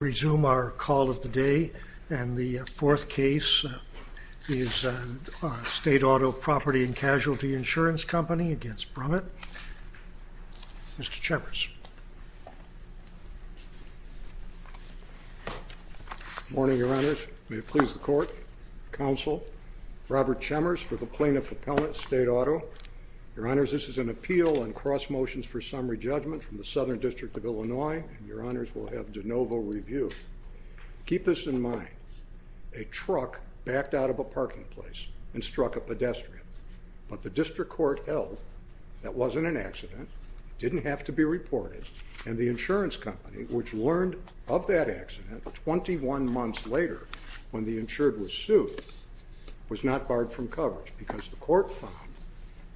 Resume our call of the day, and the fourth case is State Auto Property & Casualty Insurance Company v. Brumit. Mr. Chemers. Good morning, Your Honors. May it please the Court, Counsel Robert Chemers for the Plaintiff Appellant, State Auto. Your Honors, this is an appeal and cross-motions for summary judgment from the Southern District of Illinois. Your Keep this in mind. A truck backed out of a parking place and struck a pedestrian, but the District Court held that wasn't an accident, didn't have to be reported, and the insurance company, which learned of that accident 21 months later when the insured was sued, was not barred from coverage because the Court found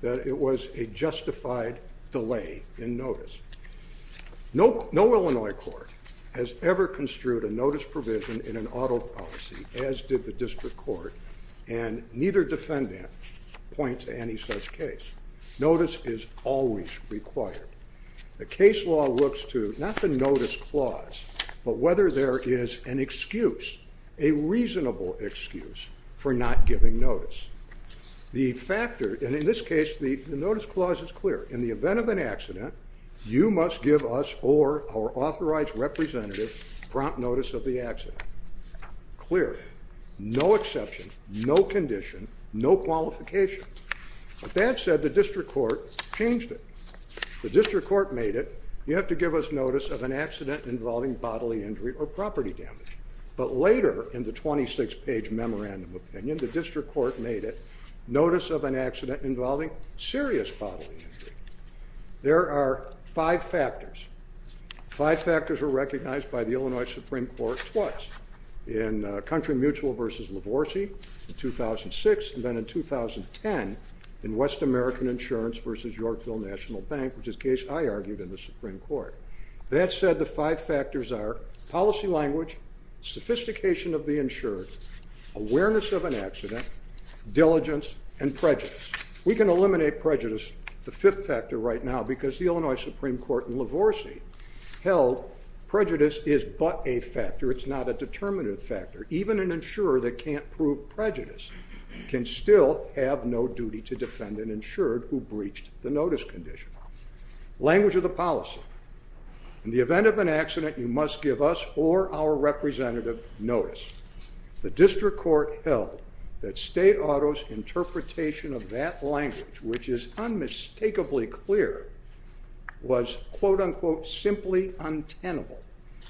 that it was a justified delay in notice. No Illinois court has ever construed a notice provision in an auto policy, as did the District Court, and neither defendant points to any such case. Notice is always required. The case law looks to not the notice clause, but whether there is an excuse, a reasonable excuse, for not giving notice. In this case, the notice clause is clear. In the event of an accident, you must give us or our authorized representative prompt notice of the accident. Clear. No exception, no condition, no qualification. But that said, the District Court changed it. The District Court made it, you have to give us notice of an accident involving bodily injury or property damage. But later, in the 26-page memorandum opinion, the District Court made it notice of an accident involving serious bodily injury. There are five factors. Five factors were recognized by the Illinois Supreme Court twice, in Country Mutual v. Lavorsi in 2006 and then in 2010 in West American Insurance v. Yorkville National Bank, which is a case I argued in the Supreme Court. That said, the five factors are policy language, sophistication of the insured, awareness of an accident, diligence, and prejudice. We can eliminate prejudice, the fifth factor right now, because the Illinois Supreme Court in Lavorsi held prejudice is but a factor, it's not a determinative factor. Even an insurer that can't prove prejudice can still have no duty to defend an insured who breached the notice condition. Language of the policy. In the event of an accident, you must give us or our representative notice. The District Court held that state auto's interpretation of that language, which is unmistakably clear, was quote unquote simply untenable.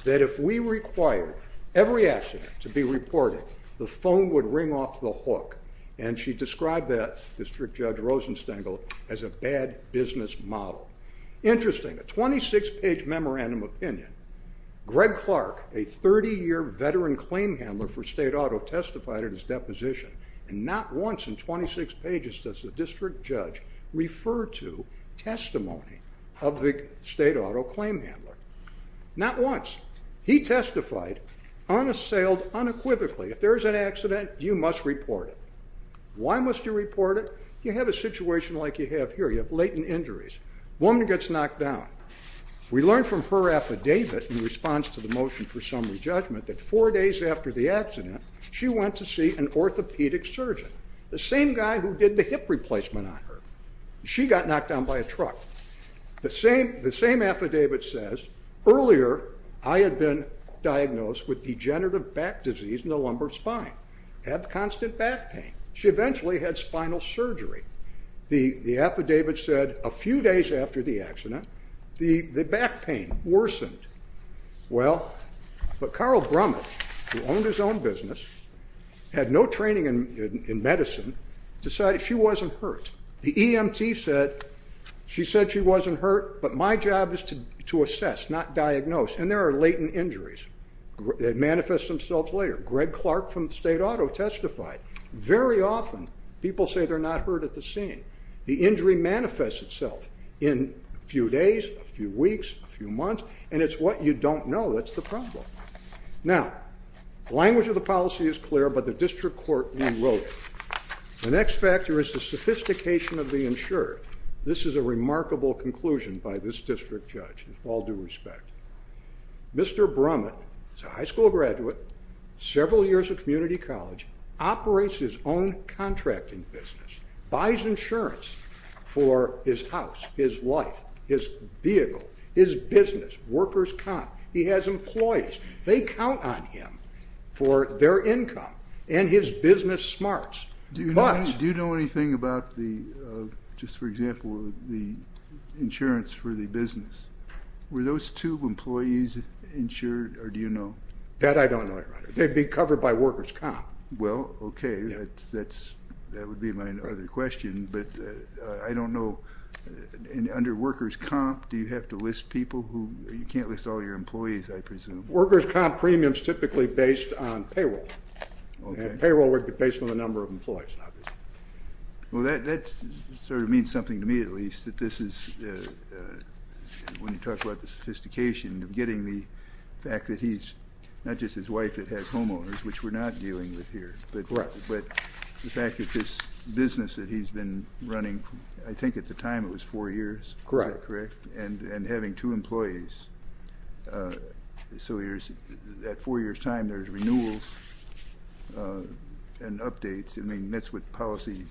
That if we required every accident to be reported, the phone would ring off the hook. And she described that, District Judge Rosenstengel, as a bad business model. Interesting, a 26-page memorandum opinion. Greg Clark, a 30-year veteran claim handler for state auto, testified at his deposition, and not once in 26 pages does the district judge refer to testimony of the state auto claim handler. Not once. He testified unassailed, unequivocally, if there is an accident, you must report it. Why must you report it? You have a situation like you have here. You have latent injuries. A woman gets knocked down. We learned from her affidavit in response to the motion for summary judgment that four days after the accident, she went to see an orthopedic surgeon, the same guy who did the hip replacement on her. She got knocked down by a truck. The same affidavit says, earlier I had been diagnosed with degenerative back disease in the lumbar spine. Had constant back pain. She eventually had spinal surgery. The affidavit said a few days after the accident, the back pain worsened. Well, but Carl Brummett, who owned his own business, had no training in medicine, decided she wasn't hurt. The EMT said, she said she wasn't hurt, but my job is to assess, not diagnose. And there are latent injuries that manifest themselves later. Greg Clark from State Auto testified. Very often, people say they're not hurt at the scene. The injury manifests itself in a few days, a few weeks, a few months, and it's what you don't know that's the problem. Now, the language of the policy is clear, but the district court rewrote it. The next factor is the sophistication of the insurer. This is a remarkable conclusion by this district judge, with all due respect. Mr. Brummett is a high school graduate, several years of community college, operates his own contracting business, buys insurance for his house, his life, his vehicle, his business, workers' comp. He has employees. They count on him for their income and his business smarts. Do you know anything about the, just for example, the insurance for the business. Were those two employees insured, or do you know? That I don't know, your honor. They'd be covered by workers' comp. Well, okay, that's, that would be my other question, but I don't know, and under workers' comp, do you have to list people who, you can't list all your employees, I presume? Workers' comp premiums typically based on payroll, and payroll based on the number of employees, obviously. Well, that sort of means something to me, at least, that this is, when you talk about the sophistication of getting the fact that he's, not just his wife that has homeowners, which we're not dealing with here, but the fact that this business that he's been running, I think at the time it was four years, is that correct? And having two and updates, I mean, that's what policies,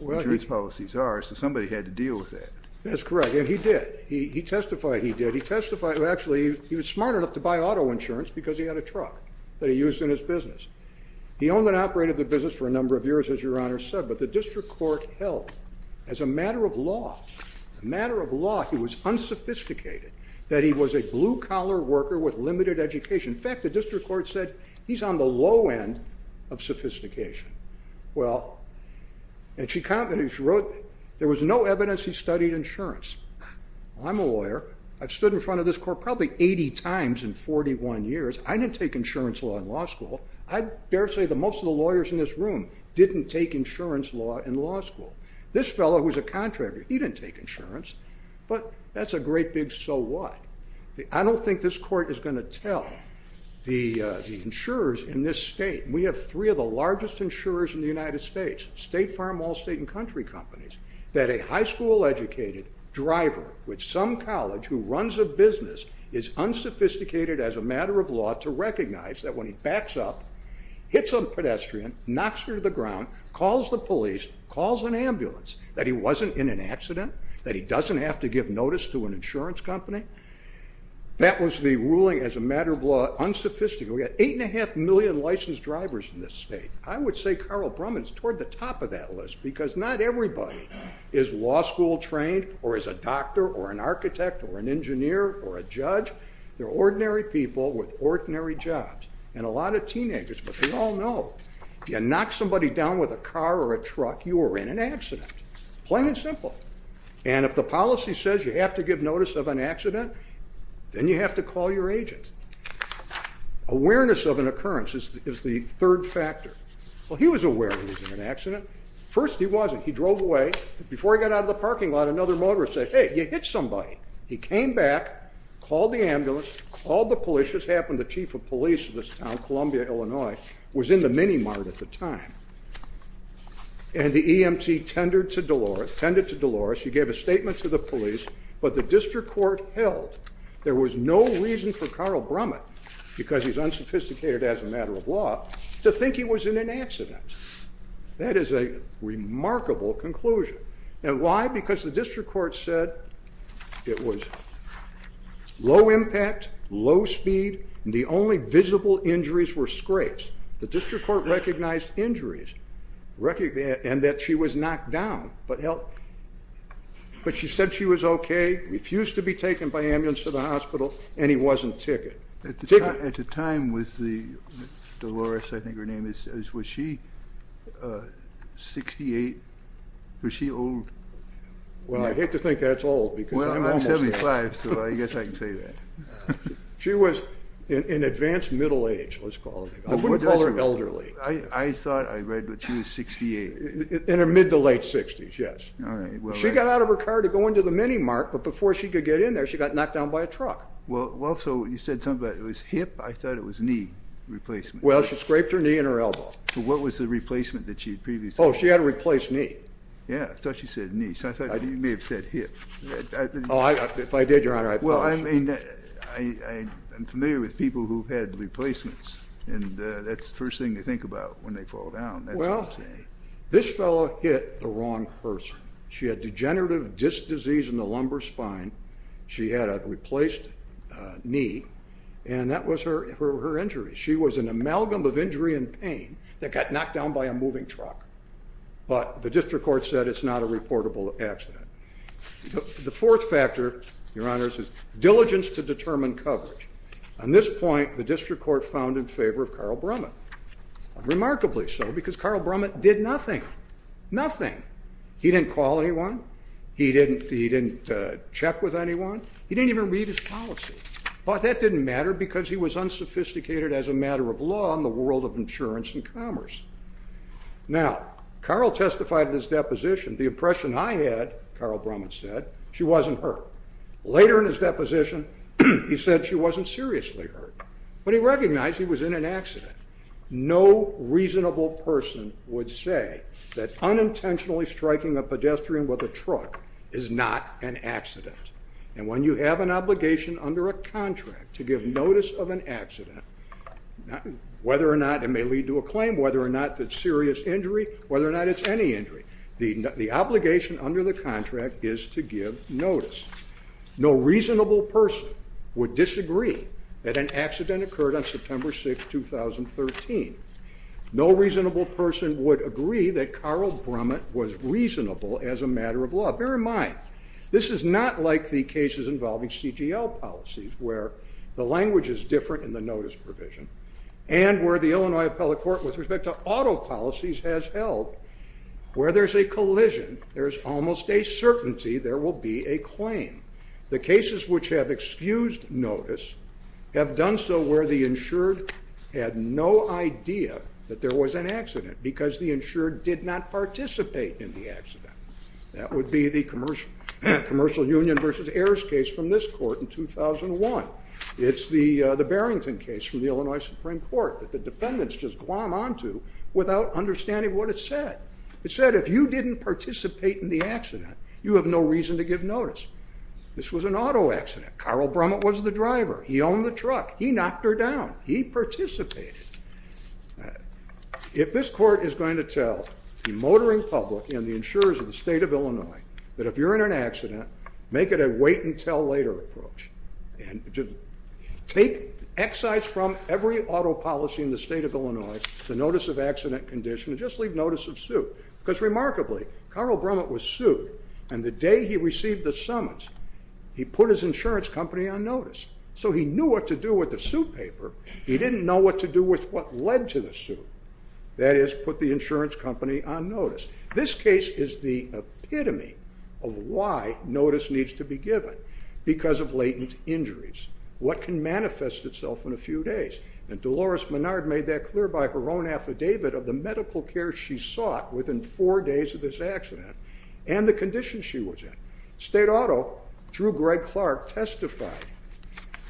insurance policies are, so somebody had to deal with that. That's correct, and he did. He testified he did. He testified, actually, he was smart enough to buy auto insurance because he had a truck that he used in his business. He owned and operated the business for a number of years, as your honor said, but the district court held as a matter of law, a matter of law, he was unsophisticated, that he was a blue-collar worker with limited education. In fact, the district court said he's on the low end of sophistication. Well, and she wrote, there was no evidence he studied insurance. I'm a lawyer. I've stood in front of this court probably 80 times in 41 years. I didn't take insurance law in law school. I dare say that most of the lawyers in this room didn't take insurance law in law school. This fellow who's a contractor, he didn't take insurance, but that's a great big so what. I don't think this court is going to tell the insurers in this state. We have three of the largest insurers in the United States, state, farm, all state, and country companies, that a high school educated driver with some college who runs a business is unsophisticated as a matter of law to recognize that when he backs up, hits a pedestrian, knocks her to the ground, calls the police, calls an ambulance, that he wasn't in an accident, that he doesn't have to give notice to an insurance company. That was the ruling as a unsophisticated. We've got eight and a half million licensed drivers in this state. I would say Carl Brumman is toward the top of that list because not everybody is law school trained or is a doctor or an architect or an engineer or a judge. They're ordinary people with ordinary jobs and a lot of teenagers, but they all know if you knock somebody down with a car or a truck, you are in an accident. Plain and simple. And if the policy says you have to give notice of an awareness of an occurrence is the third factor. Well, he was aware he was in an accident. First, he wasn't. He drove away. Before he got out of the parking lot, another motorist said, hey, you hit somebody. He came back, called the ambulance, called the police. This happened, the chief of police of this town, Columbia, Illinois, was in the mini mart at the time. And the EMT tended to Dolores. He gave a statement to the police, but the district court held. There was no reason for Carl Brumman, because he's unsophisticated as a matter of law, to think he was in an accident. That is a remarkable conclusion. And why? Because the district court said it was low impact, low speed, and the only visible injuries were scrapes. The district court recognized injuries and that she was knocked down, but she said she was okay, refused to be taken by ambulance to the hospital, and he wasn't ticket. At the time with Dolores, I think her name is, was she 68? Was she old? Well, I hate to think that's old. Well, I'm 75, so I guess I can say that. She was in advanced middle age, let's call it. I wouldn't call her elderly. I thought I read that she was 68. In her mid to late 60s, yes. She got out of her car to go into the mini mart, but before she could get in there, she got knocked down by a truck. Well, so you said something about it was hip. I thought it was knee replacement. Well, she scraped her knee and her elbow. So what was the replacement that she had previously? Oh, she had a replaced knee. Yeah, I thought she said knee. So I thought you may have said hip. Oh, if I did, Your Honor, I apologize. Well, I mean, I am familiar with people who've had replacements, and that's the first thing to think about when they fall down. Well, this fellow hit the wrong person. She had degenerative disc disease in the lumbar spine. She had a replaced knee, and that was her injury. She was an amalgam of injury and pain that got knocked down by a moving truck. But the district court said it's not a reportable accident. The fourth factor, Your Honor, is diligence to determine coverage. On this point, the district court found in favor of Carl Brummett. Remarkably so, because Carl did nothing. Nothing. He didn't call anyone. He didn't check with anyone. He didn't even read his policy. But that didn't matter because he was unsophisticated as a matter of law in the world of insurance and commerce. Now, Carl testified in his deposition, the impression I had, Carl Brummett said, she wasn't hurt. Later in his deposition, he said she wasn't seriously hurt. But he recognized he was in an accident. No reasonable person would say that unintentionally striking a pedestrian with a truck is not an accident. And when you have an obligation under a contract to give notice of an accident, whether or not it may lead to a claim, whether or not that serious injury, whether or not it's any injury, the obligation under the contract is to give notice. No reasonable person would disagree that an accident occurred on September 6, 2013. No reasonable person would agree that Carl Brummett was reasonable as a matter of law. Bear in mind, this is not like the cases involving CGL policies, where the language is different in the notice provision, and where the Illinois appellate court with respect to auto policies has held, where there's a collision, there's almost a certainty there will be a claim. The cases which have excused notice have done so where the insured had no idea that there was an accident, because the insured did not participate in the accident. That would be the commercial union versus heirs case from this court in 2001. It's the Barrington case from the Illinois Supreme Court that the defendants just the accident. You have no reason to give notice. This was an auto accident. Carl Brummett was the driver. He owned the truck. He knocked her down. He participated. If this court is going to tell the motoring public and the insurers of the state of Illinois that if you're in an accident, make it a wait-and-tell-later approach. Take excise from every auto policy in the state of Illinois, the notice of accident condition, and just leave notice of suit. Because remarkably, Carl Brummett was sued. And the day he received the summons, he put his insurance company on notice. So he knew what to do with the suit paper. He didn't know what to do with what led to the suit. That is, put the insurance company on notice. This case is the epitome of why notice needs to be given because of latent injuries. What can manifest itself in a few days? And Dolores Menard made that clear by her own affidavit of the medical care she sought within four days of this accident and the condition she was in. State Auto, through Greg Clark, testified,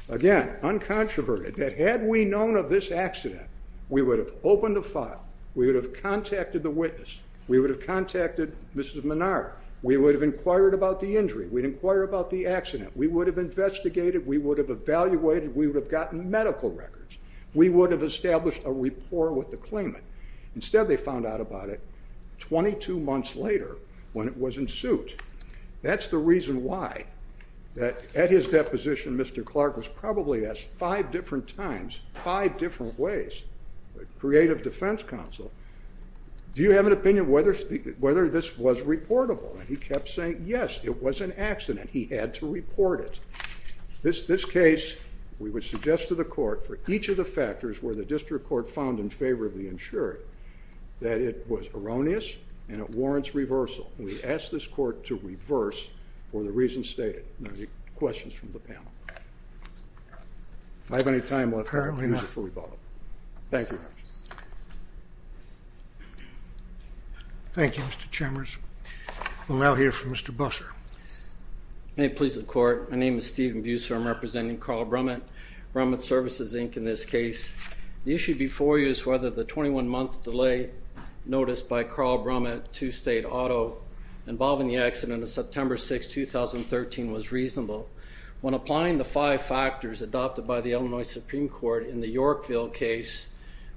again, uncontroverted, that had we known of this accident, we would have opened a file. We would have contacted the witness. We would have contacted Mrs. Menard. We would have inquired about the injury. We'd inquire about the accident. We would have investigated. We would have evaluated. We would have gotten medical records. We would have established a rapport with the claimant. Instead, they found out about it 22 months later when it was in suit. That's the reason why, that at his deposition, Mr. Clark was probably asked five different times, five different ways, creative defense counsel, do you have an opinion whether this was reportable? And he kept saying, yes, it was an accident. He had to report it. This case, we would suggest to the court, for each of the factors where the district court found in favor of the insurer, that it was erroneous and it warrants reversal. We ask this court to reverse for the reasons stated. Any questions from the panel? If I have any time left, I'll use it for rebuttal. Thank you. Thank you, Mr. Chambers. We'll now hear from Mr. Busser. May it please the court, my name is Steven Busser. I'm representing Carl Brummett, Brummett Services, Inc. in this case. The issue before you is whether the 21-month delay noticed by Carl Brummett to State Auto involving the accident of September 6, 2013 was reasonable. When applying the five factors adopted by the Illinois Supreme Court in the Yorkville case,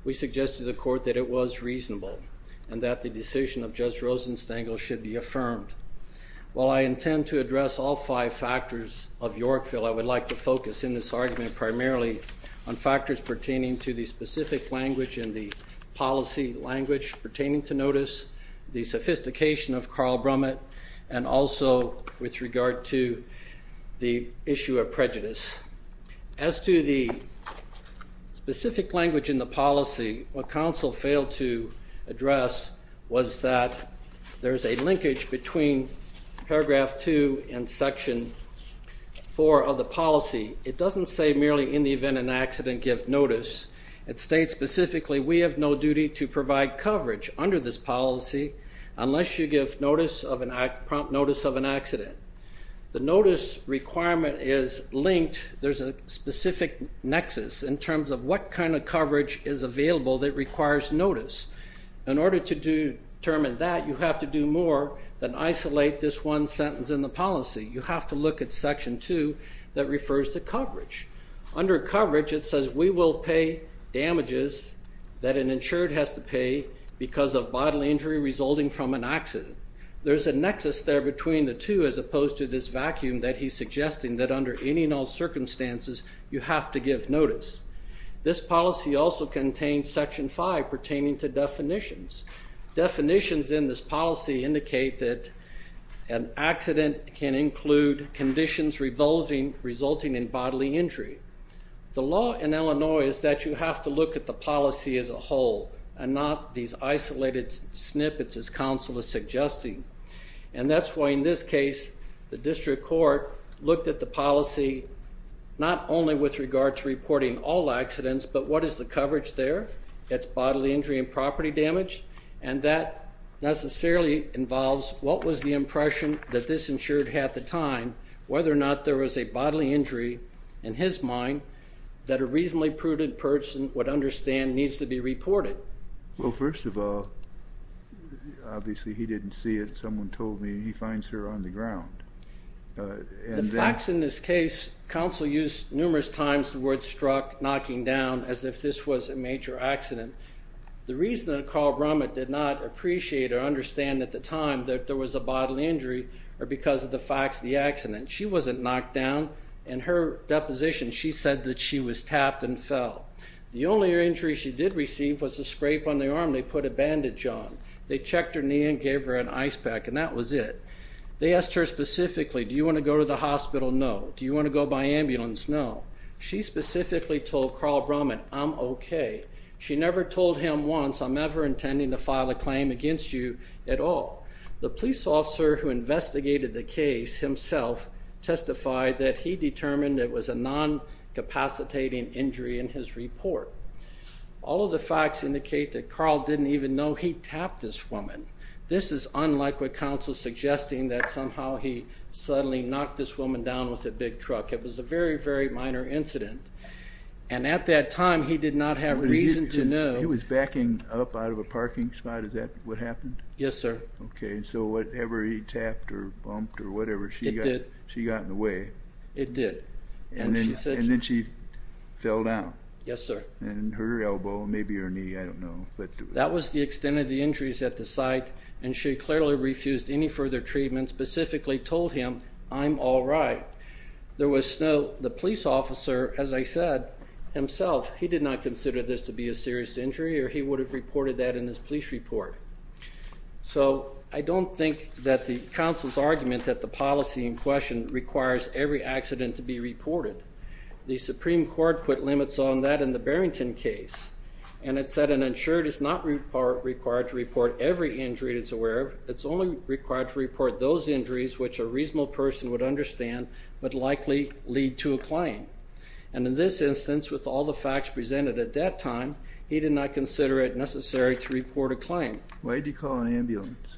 we suggested to the court that it was reasonable and that the decision of Judge Rosenstangel should be affirmed. While I intend to address all five factors of Yorkville, I would like to focus in this argument primarily on factors pertaining to the specific language and the policy language pertaining to notice, the sophistication of Carl Brummett, and also with regard to the issue of prejudice. As to the specific language in the policy, what counsel failed to address was that there's a linkage between paragraph 2 and section 4 of the policy. It doesn't say merely in the event an accident gives notice. It states specifically we have no duty to provide coverage under this policy unless you give prompt notice of an accident. The notice requirement is linked, there's a specific nexus in terms of what kind of coverage is available that requires notice. In order to determine that, you have to do more than isolate this one sentence in the policy. You have to look at section 2 that refers to coverage. Under coverage, it says we will pay damages that an insured has to pay because of bodily injury resulting from an accident. There's a nexus there between the two as opposed to this vacuum that he's suggesting that under any and all circumstances, you have to give notice. This policy also contains section 5 pertaining to definitions. Definitions in this policy indicate that an accident can include conditions resulting in bodily injury. The law in Illinois is that you have to look at the policy as a whole and not these isolated snippets as counsel is suggesting. And that's why in this court, looked at the policy not only with regard to reporting all accidents, but what is the coverage there? It's bodily injury and property damage. And that necessarily involves what was the impression that this insured had at the time, whether or not there was a bodily injury, in his mind, that a reasonably prudent person would understand needs to be reported. Well, first of all, obviously he didn't see it. Someone told me he finds her on the ground. The facts in this case, counsel used numerous times the word struck, knocking down, as if this was a major accident. The reason that Carl Brummett did not appreciate or understand at the time that there was a bodily injury or because of the facts of the accident, she wasn't knocked down. In her deposition, she said that she was tapped and fell. The only injury she did receive was a scrape on the arm. They put a bandage on. They checked her knee and gave her an ice pack, and that was it. They asked her specifically, do you want to go to the hospital? No. Do you want to go by ambulance? No. She specifically told Carl Brummett, I'm okay. She never told him once, I'm never intending to file a claim against you at all. The police officer who investigated the case himself testified that he determined it was a non-capacitating injury in his report. All of the facts indicate that Carl didn't even know he tapped this woman. This is unlike what counsel is suggesting, that somehow he suddenly knocked this woman down with a big truck. It was a very, very minor incident, and at that time, he did not have reason to know. He was backing up out of a parking spot. Is that what happened? Yes, sir. Okay, so whatever he tapped or bumped or hurt her elbow, maybe her knee, I don't know. That was the extent of the injuries at the site, and she clearly refused any further treatment, specifically told him, I'm all right. There was no, the police officer, as I said, himself, he did not consider this to be a serious injury, or he would have reported that in his police report. So I don't think that the counsel's argument that the policy in question requires every accident to be reported. The Supreme Court put limits on that in the Barrington case, and it said an insured is not required to report every injury it's aware of. It's only required to report those injuries which a reasonable person would understand would likely lead to a claim, and in this instance, with all the facts presented at that time, he did not consider it necessary to report a claim. Why did he call an ambulance?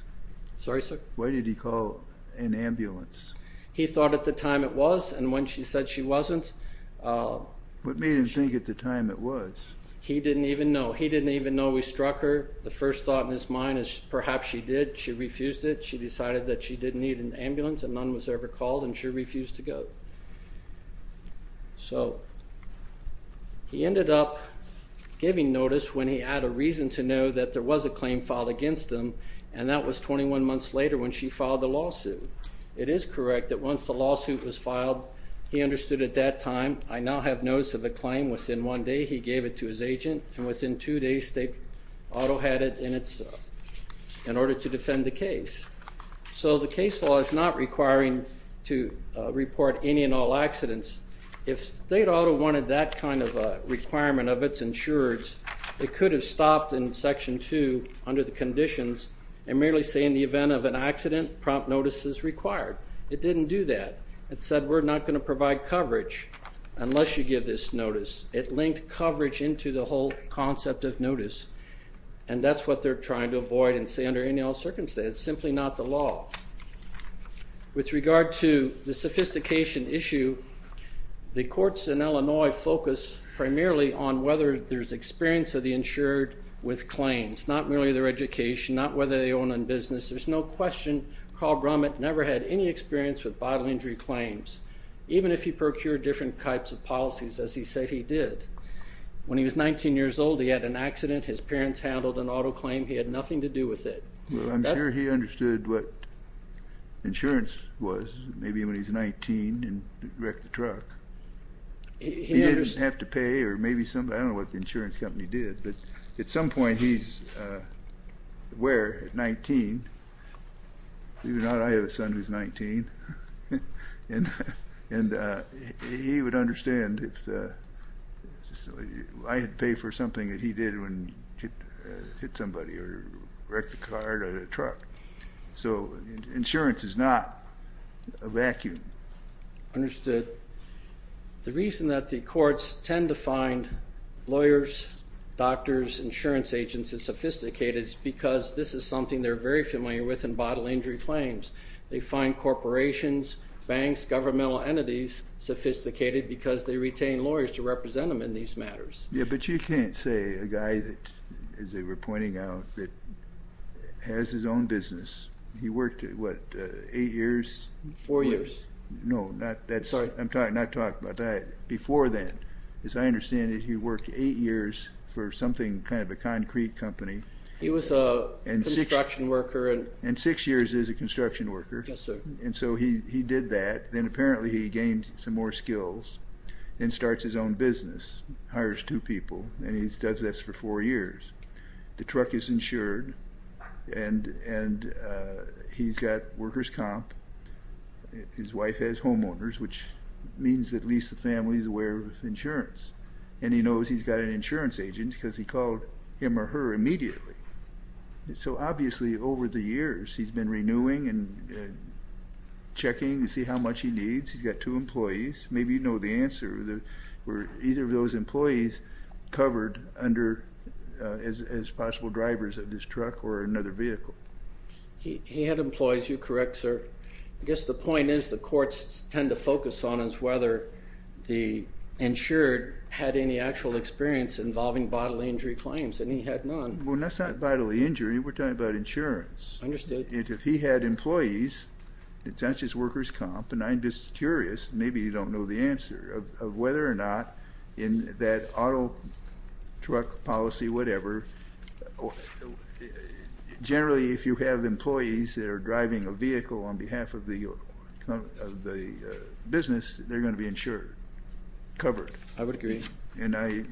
Sorry, sir? Why did he call an ambulance? He thought at the time it was, and when she said she wasn't. What made him think at the time it was? He didn't even know. He didn't even know we struck her. The first thought in his mind is perhaps she did. She refused it. She decided that she didn't need an ambulance, and none was ever called, and she refused to go. So he ended up giving notice when he had a reason to know that there was a claim filed against him, and that was 21 months later when she filed the lawsuit. It is correct that once the lawsuit was filed, he understood at that time, I now have notice of a claim. Within one day, he gave it to his agent, and within two days, state auto had it in its, in order to defend the case. So the case law is not requiring to report any and all accidents. If state auto wanted that kind of a requirement of its insurers, it could have stopped in section two under the conditions and merely say in the event of an accident, prompt notice is required. It didn't do that. It said we're not going to provide coverage unless you give this notice. It linked coverage into the whole concept of notice, and that's what they're trying to avoid and say under any and all circumstances. It's simply not the law. With regard to the sophistication issue, the courts in Illinois focus primarily on whether there's experience of the insured with claims, not merely their education, not whether they own a business. There's no question Carl Brummett never had any experience with body injury claims, even if he procured different types of policies as he said he did. When he was 19 years old, he had an accident. His parents handled an auto claim. He had nothing to do with it. I'm sure he understood what insurance was, maybe when he's 19, and wrecked the truck. He didn't have to pay, or maybe somebody, I don't know what the insurance company did, but at some point he's aware at 19. Believe it or not, I have a son who's 19, and he would understand if I had paid for something that he did when he hit somebody, or wrecked the car, or the truck. So insurance is not a vacuum. Understood. The reason that the courts tend to find lawyers, doctors, insurance agents as sophisticated is because this is something they're very familiar with in body injury claims. They find corporations, banks, governmental entities sophisticated because they retain lawyers to represent them in these matters. Yeah, but you can't say a guy that, as they were pointing out, that has his own business. He worked what, eight years? Four years. No, not that. Sorry. I'm talking, not talking about that. Before then, as I understand it, he worked eight years for something, kind of a concrete company. He was a construction worker. And six years as a construction worker. Yes, sir. And so he did that. Then apparently he gained some more skills, and starts his own business, hires two people, and he does this for four years. The truck is insured, and he's got workers comp. His wife has homeowners, which means at least the family is aware of insurance. And he knows he's got an insurance agent because he called him or her immediately. So obviously, over the years, he's been renewing and checking to see how much he needs. He's got two employees. Maybe you know the answer. Were either of those employees covered as possible drivers of this truck or another vehicle? He had employees. You're correct, sir. I guess the point is the courts tend to focus on is whether the insured had any actual experience involving bodily injury claims, and he had none. Well, that's not bodily injury. We're talking about insurance. Understood. If he had employees, it's not just workers comp, and I'm just curious, maybe you don't know the answer, of whether or not in that auto truck policy, whatever, generally if you have employees that are driving a vehicle on behalf of the business, they're going to be insured, covered. I would agree. And I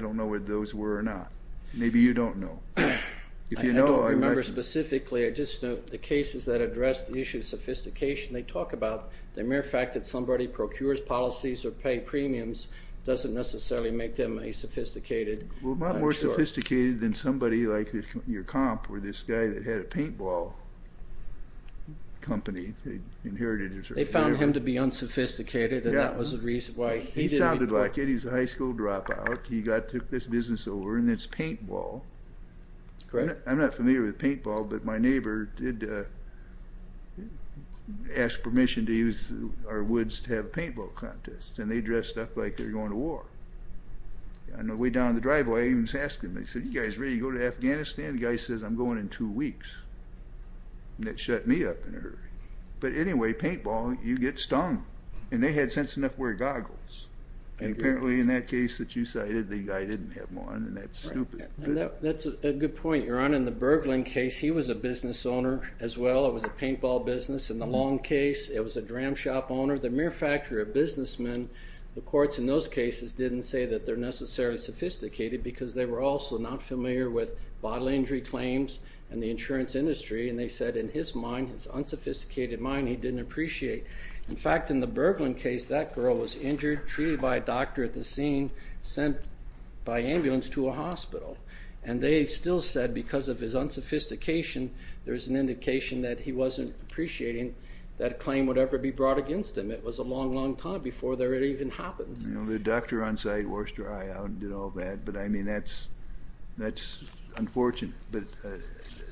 don't know whether those were or not. Maybe you don't know. I don't remember specifically. I just know the cases that address the issue of sophistication. They talk about the mere fact that somebody procures policies or pay premiums doesn't necessarily make them a sophisticated insurer. Well, a lot more sophisticated than somebody like your comp, or this guy that had a paintball company. They found him to be unsophisticated, and that was the reason why he did it. He sounded like it. He's a high school dropout. He took this business over, and it's paintball. Correct. I'm not familiar with paintball, but my neighbor did ask permission to use our woods to have a paintball contest, and they dressed up like they're going to war. On the way down the driveway, I even asked him, I said, you guys ready to go to Afghanistan? The guy says, I'm going in two weeks. And that shut me up in a hurry. But anyway, paintball, you get stung. And they had sense enough to wear goggles. And apparently in that case that you cited, the guy didn't have one, and that's stupid. That's a good point, your honor. In the Berglin case, he was a business owner as well. It was a paintball business. In the Long case, it was a dram shop owner. The mere fact that they're businessmen, the courts in those cases didn't say that they're necessarily sophisticated, because they were also not familiar with bodily injury claims and the insurance industry, and they said in his mind, his unsophisticated mind, he didn't appreciate. In fact, in the Berglin case, that girl was injured, treated by a doctor at the scene, sent by ambulance to a hospital. And they still said because of his unsophistication, there's an indication that he wasn't appreciating that claim would ever be brought against him. It was a long, long time before there had even happened. You know, the doctor on site washed her eye out and did all that. But I mean, that's unfortunate. But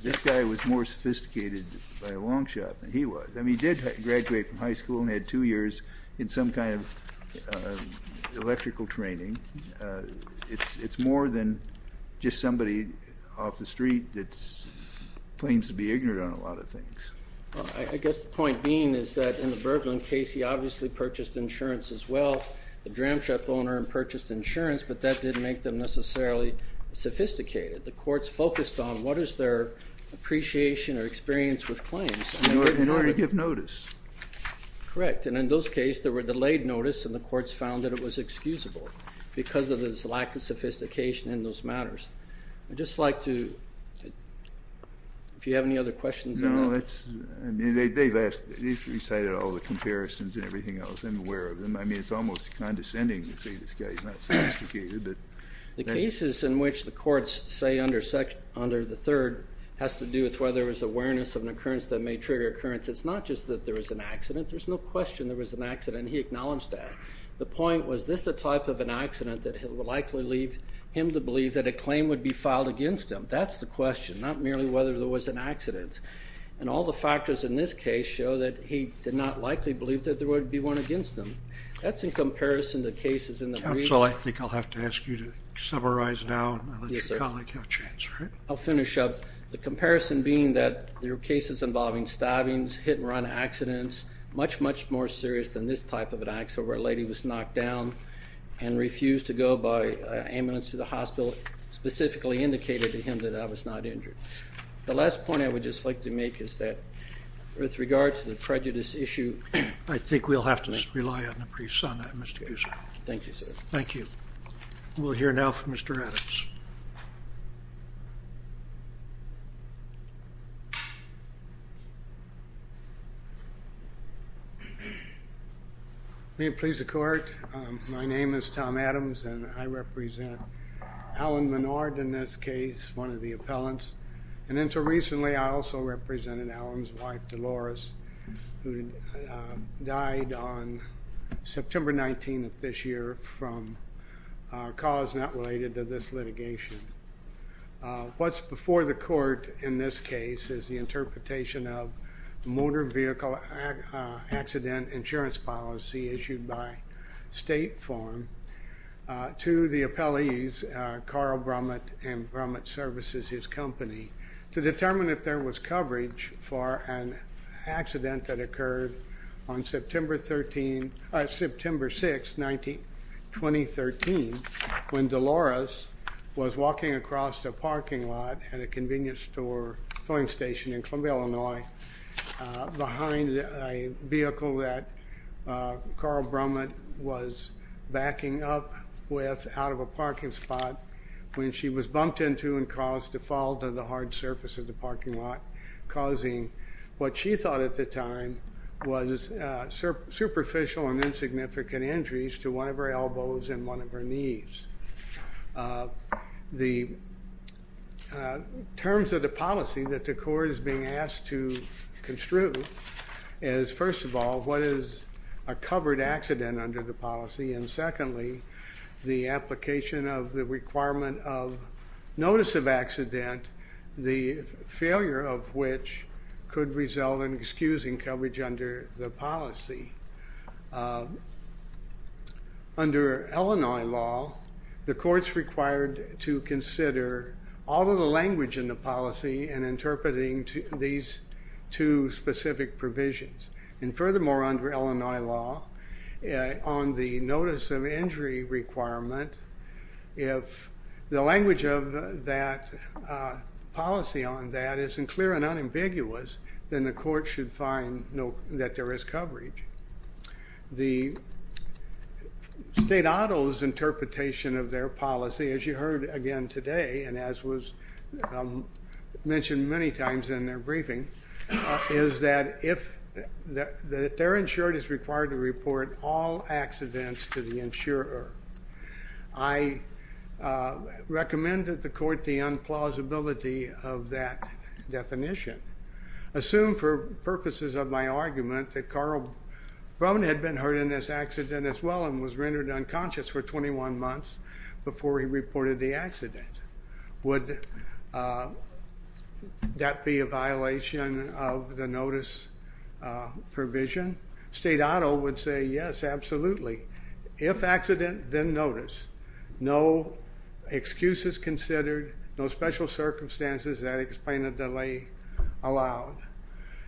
this guy was more sophisticated by a long shot than he was. I mean, he did graduate from high school and had two years in some kind of electrical training. It's more than just somebody off the street that claims to be ignorant on a lot of things. I guess the point being is that in the Berglin case, he obviously purchased insurance as well. The dram shop owner purchased insurance, but that didn't make them necessarily sophisticated. The courts focused on what is their appreciation or experience with claims. In order to give notice. Correct. And in those case, there were delayed notice and the courts found that it was excusable because of his lack of sophistication in those matters. I'd just like to, if you have any other questions. No, that's, I mean, they've asked, they've recited all the comparisons and everything else. I'm aware of them. I mean, it's almost condescending to say this guy's not sophisticated. The cases in which the courts say under the third has to do with awareness of an occurrence that may trigger occurrence. It's not just that there was an accident. There's no question there was an accident. He acknowledged that. The point was, this is the type of an accident that would likely leave him to believe that a claim would be filed against them. That's the question, not merely whether there was an accident. And all the factors in this case show that he did not likely believe that there would be one against them. That's in comparison to cases in the brief. Counsel, I think I'll have to ask you to cases involving stabbings, hit and run accidents, much, much more serious than this type of an accident where a lady was knocked down and refused to go by ambulance to the hospital, specifically indicated to him that I was not injured. The last point I would just like to make is that with regard to the prejudice issue, I think we'll have to rely on the briefs on that. Thank you, sir. Thank you. We'll hear now from Mr. Adams. May it please the court. My name is Tom Adams, and I represent Alan Menard in this case, one of the appellants. And until recently, I also represented Alan's wife, Dolores, who died on September 19 of this year from a cause not related to this litigation. What's before the court in this case is the interpretation of motor vehicle accident insurance policy issued by State Farm to the appellees, Carl Brummett and Brummett Services, his company, to determine if there was coverage for an accident that occurred on September 13, when Dolores was walking across a parking lot at a convenience store filling station in Columbia, Illinois, behind a vehicle that Carl Brummett was backing up with out of a parking spot when she was bumped into and caused to fall to the hard surface of the parking lot, causing what she thought at the time was superficial and insignificant injuries to one of her elbows and one of her knees. The terms of the policy that the court is being asked to construe is, first of all, what is a covered accident under the policy, and secondly, the application of the requirement of notice of accident, the failure of which could result in excusing coverage under the policy. Under Illinois law, the court's required to consider all of the language in the policy in interpreting these two specific provisions. And furthermore, under Illinois law, on the notice of injury requirement, if the language of that policy on that isn't clear and unambiguous, then the court should find that there is coverage. The state auto's interpretation of their policy, as you heard again today and as was mentioned many times in their briefing, is that if they're insured, it's required to report all accidents to the insurer. I recommend that the court the unplausibility of that definition. Assume for purposes of my argument that Carl Brummett had been hurt in this accident as well and was rendered unconscious for 21 months before he reported the accident. Would that be a violation of the notice provision? State auto would say, yes, absolutely. If accident, then notice. No excuses considered, no special circumstances that explain a delay allowed.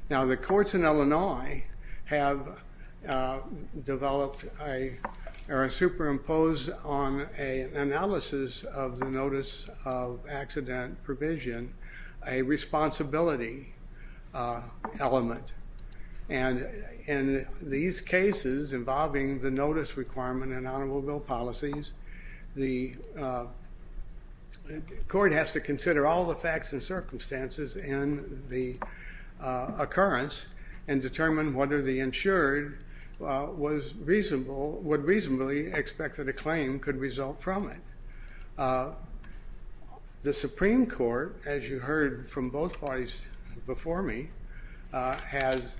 Now, the courts in Illinois have developed or superimposed on an analysis of the notice of accident provision a responsibility element. And in these cases involving the notice requirement and honorable bill policies, the court has to consider all the facts and circumstances in the occurrence and determine whether the insured would reasonably expect that a claim could result from it. The Supreme Court, as you heard from both parties before me, has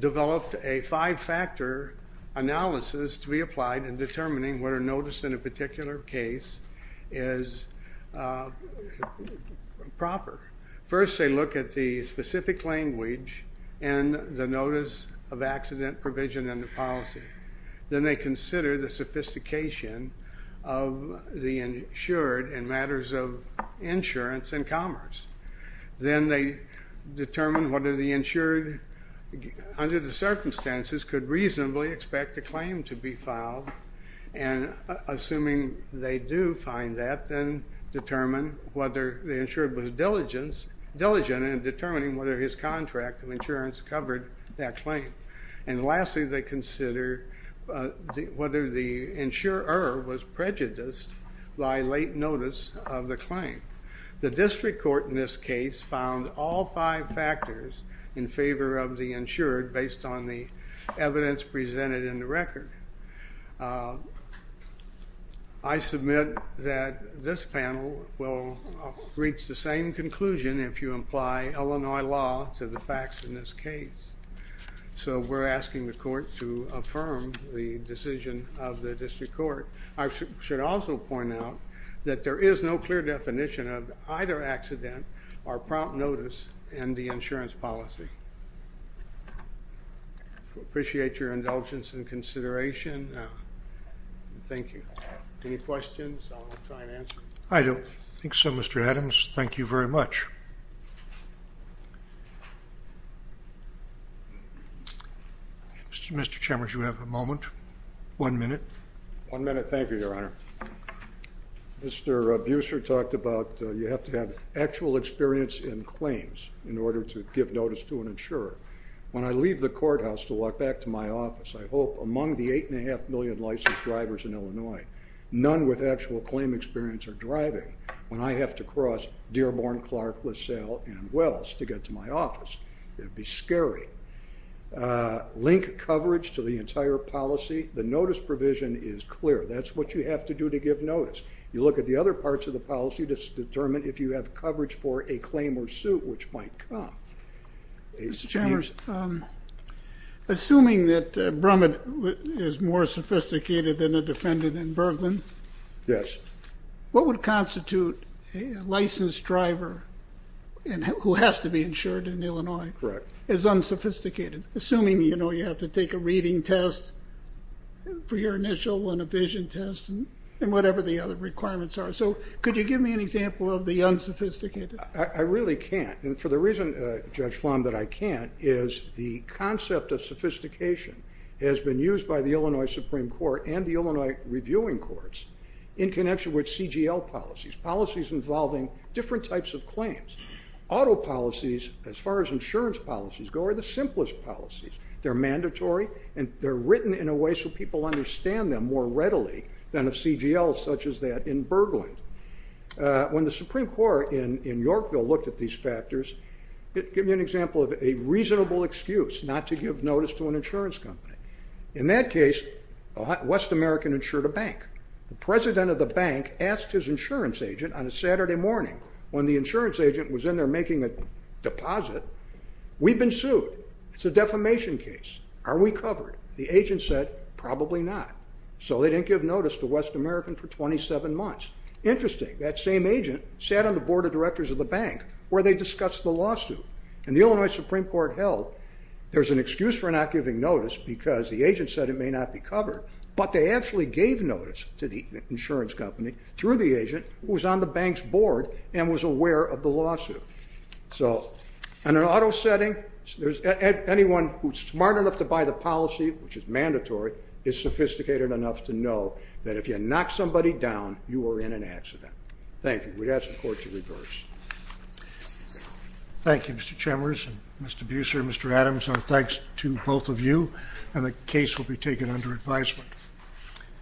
developed a five-factor analysis to be applied in determining whether notice in a particular case is proper. First they look at the specific language and the notice of accident provision and the policy. Then they consider the sophistication of the insured in matters of insurance and commerce. Then they determine what are the insured under the circumstances could reasonably expect a claim to diligence and determining whether his contract of insurance covered that claim. And lastly, they consider whether the insurer was prejudiced by late notice of the claim. The district court in this case found all five factors in favor of the insured based on the evidence presented in the record. I submit that this panel will reach the same conclusion if you apply Illinois law to the facts in this case. So we're asking the court to affirm the decision of the district court. I should also point out that there is no clear definition of either accident or prompt notice in the insurance policy. I appreciate your indulgence and consideration. Thank you. Any questions? I'll try to answer. MR. ADAMS I don't think so, Mr. Adams. Thank you very much. Mr. Chambers, you have a moment. One minute. MR. CHAMBERS One minute. Thank you, Your Honor. Mr. Buser talked about you have to have actual experience in claims in order to give notice to an insurer. When I leave the courthouse to walk back to my office, I hope among the 8.5 million licensed drivers in Illinois, none with actual claim experience are driving. When I have to cross Dearborn, Clark, LaSalle, and Wells to get to my office, it would be scary. Link coverage to the policy, the notice provision is clear. That's what you have to do to give notice. You look at the other parts of the policy to determine if you have coverage for a claim or suit which might come. MR. ADAMS Mr. Chambers, assuming that Brumman is more sophisticated than a defendant in Berglund, what would constitute a licensed driver who has to be insured in Illinois as unsophisticated? Assuming you have to take a reading test for your initial one, a vision test, and whatever the other requirements are. Could you give me an example of the unsophisticated? MR. BUSER I really can't. For the reason, Judge Flom, that I can't is the concept of sophistication has been used by the Illinois Supreme Court and the Illinois Reviewing Courts in connection with CGL policies, policies involving different types of claims. Auto policies, as far as insurance policies go, are the simplest policies. They're mandatory, and they're written in a way so people understand them more readily than a CGL such as that in Berglund. When the Supreme Court in Yorkville looked at these factors, it gave me an example of a reasonable excuse not to give notice to an insurance company. In that case, a West American insured a bank. The president of the bank asked his insurance agent on a Saturday morning when the insurance agent was in there making a deposit, we've been sued. It's a defamation case. Are we covered? The agent said, probably not. So they didn't give notice to West American for 27 months. Interesting. That same agent sat on the board of directors of the bank where they discussed the lawsuit. And the Illinois Supreme Court held there's an excuse for not giving notice because the agent said it may not be covered, but they actually gave notice to the insurance company through the agent who was on the bank's board and was aware of the lawsuit. So in an auto setting, anyone who's smart enough to buy the policy, which is mandatory, is sophisticated enough to know that if you knock somebody down, you are in an accident. Thank you. We'd ask the court to reverse. Thank you, Mr. Chemers, Mr. Buser, Mr. Adams. Our thanks to both of you, and the case will be taken under advisement.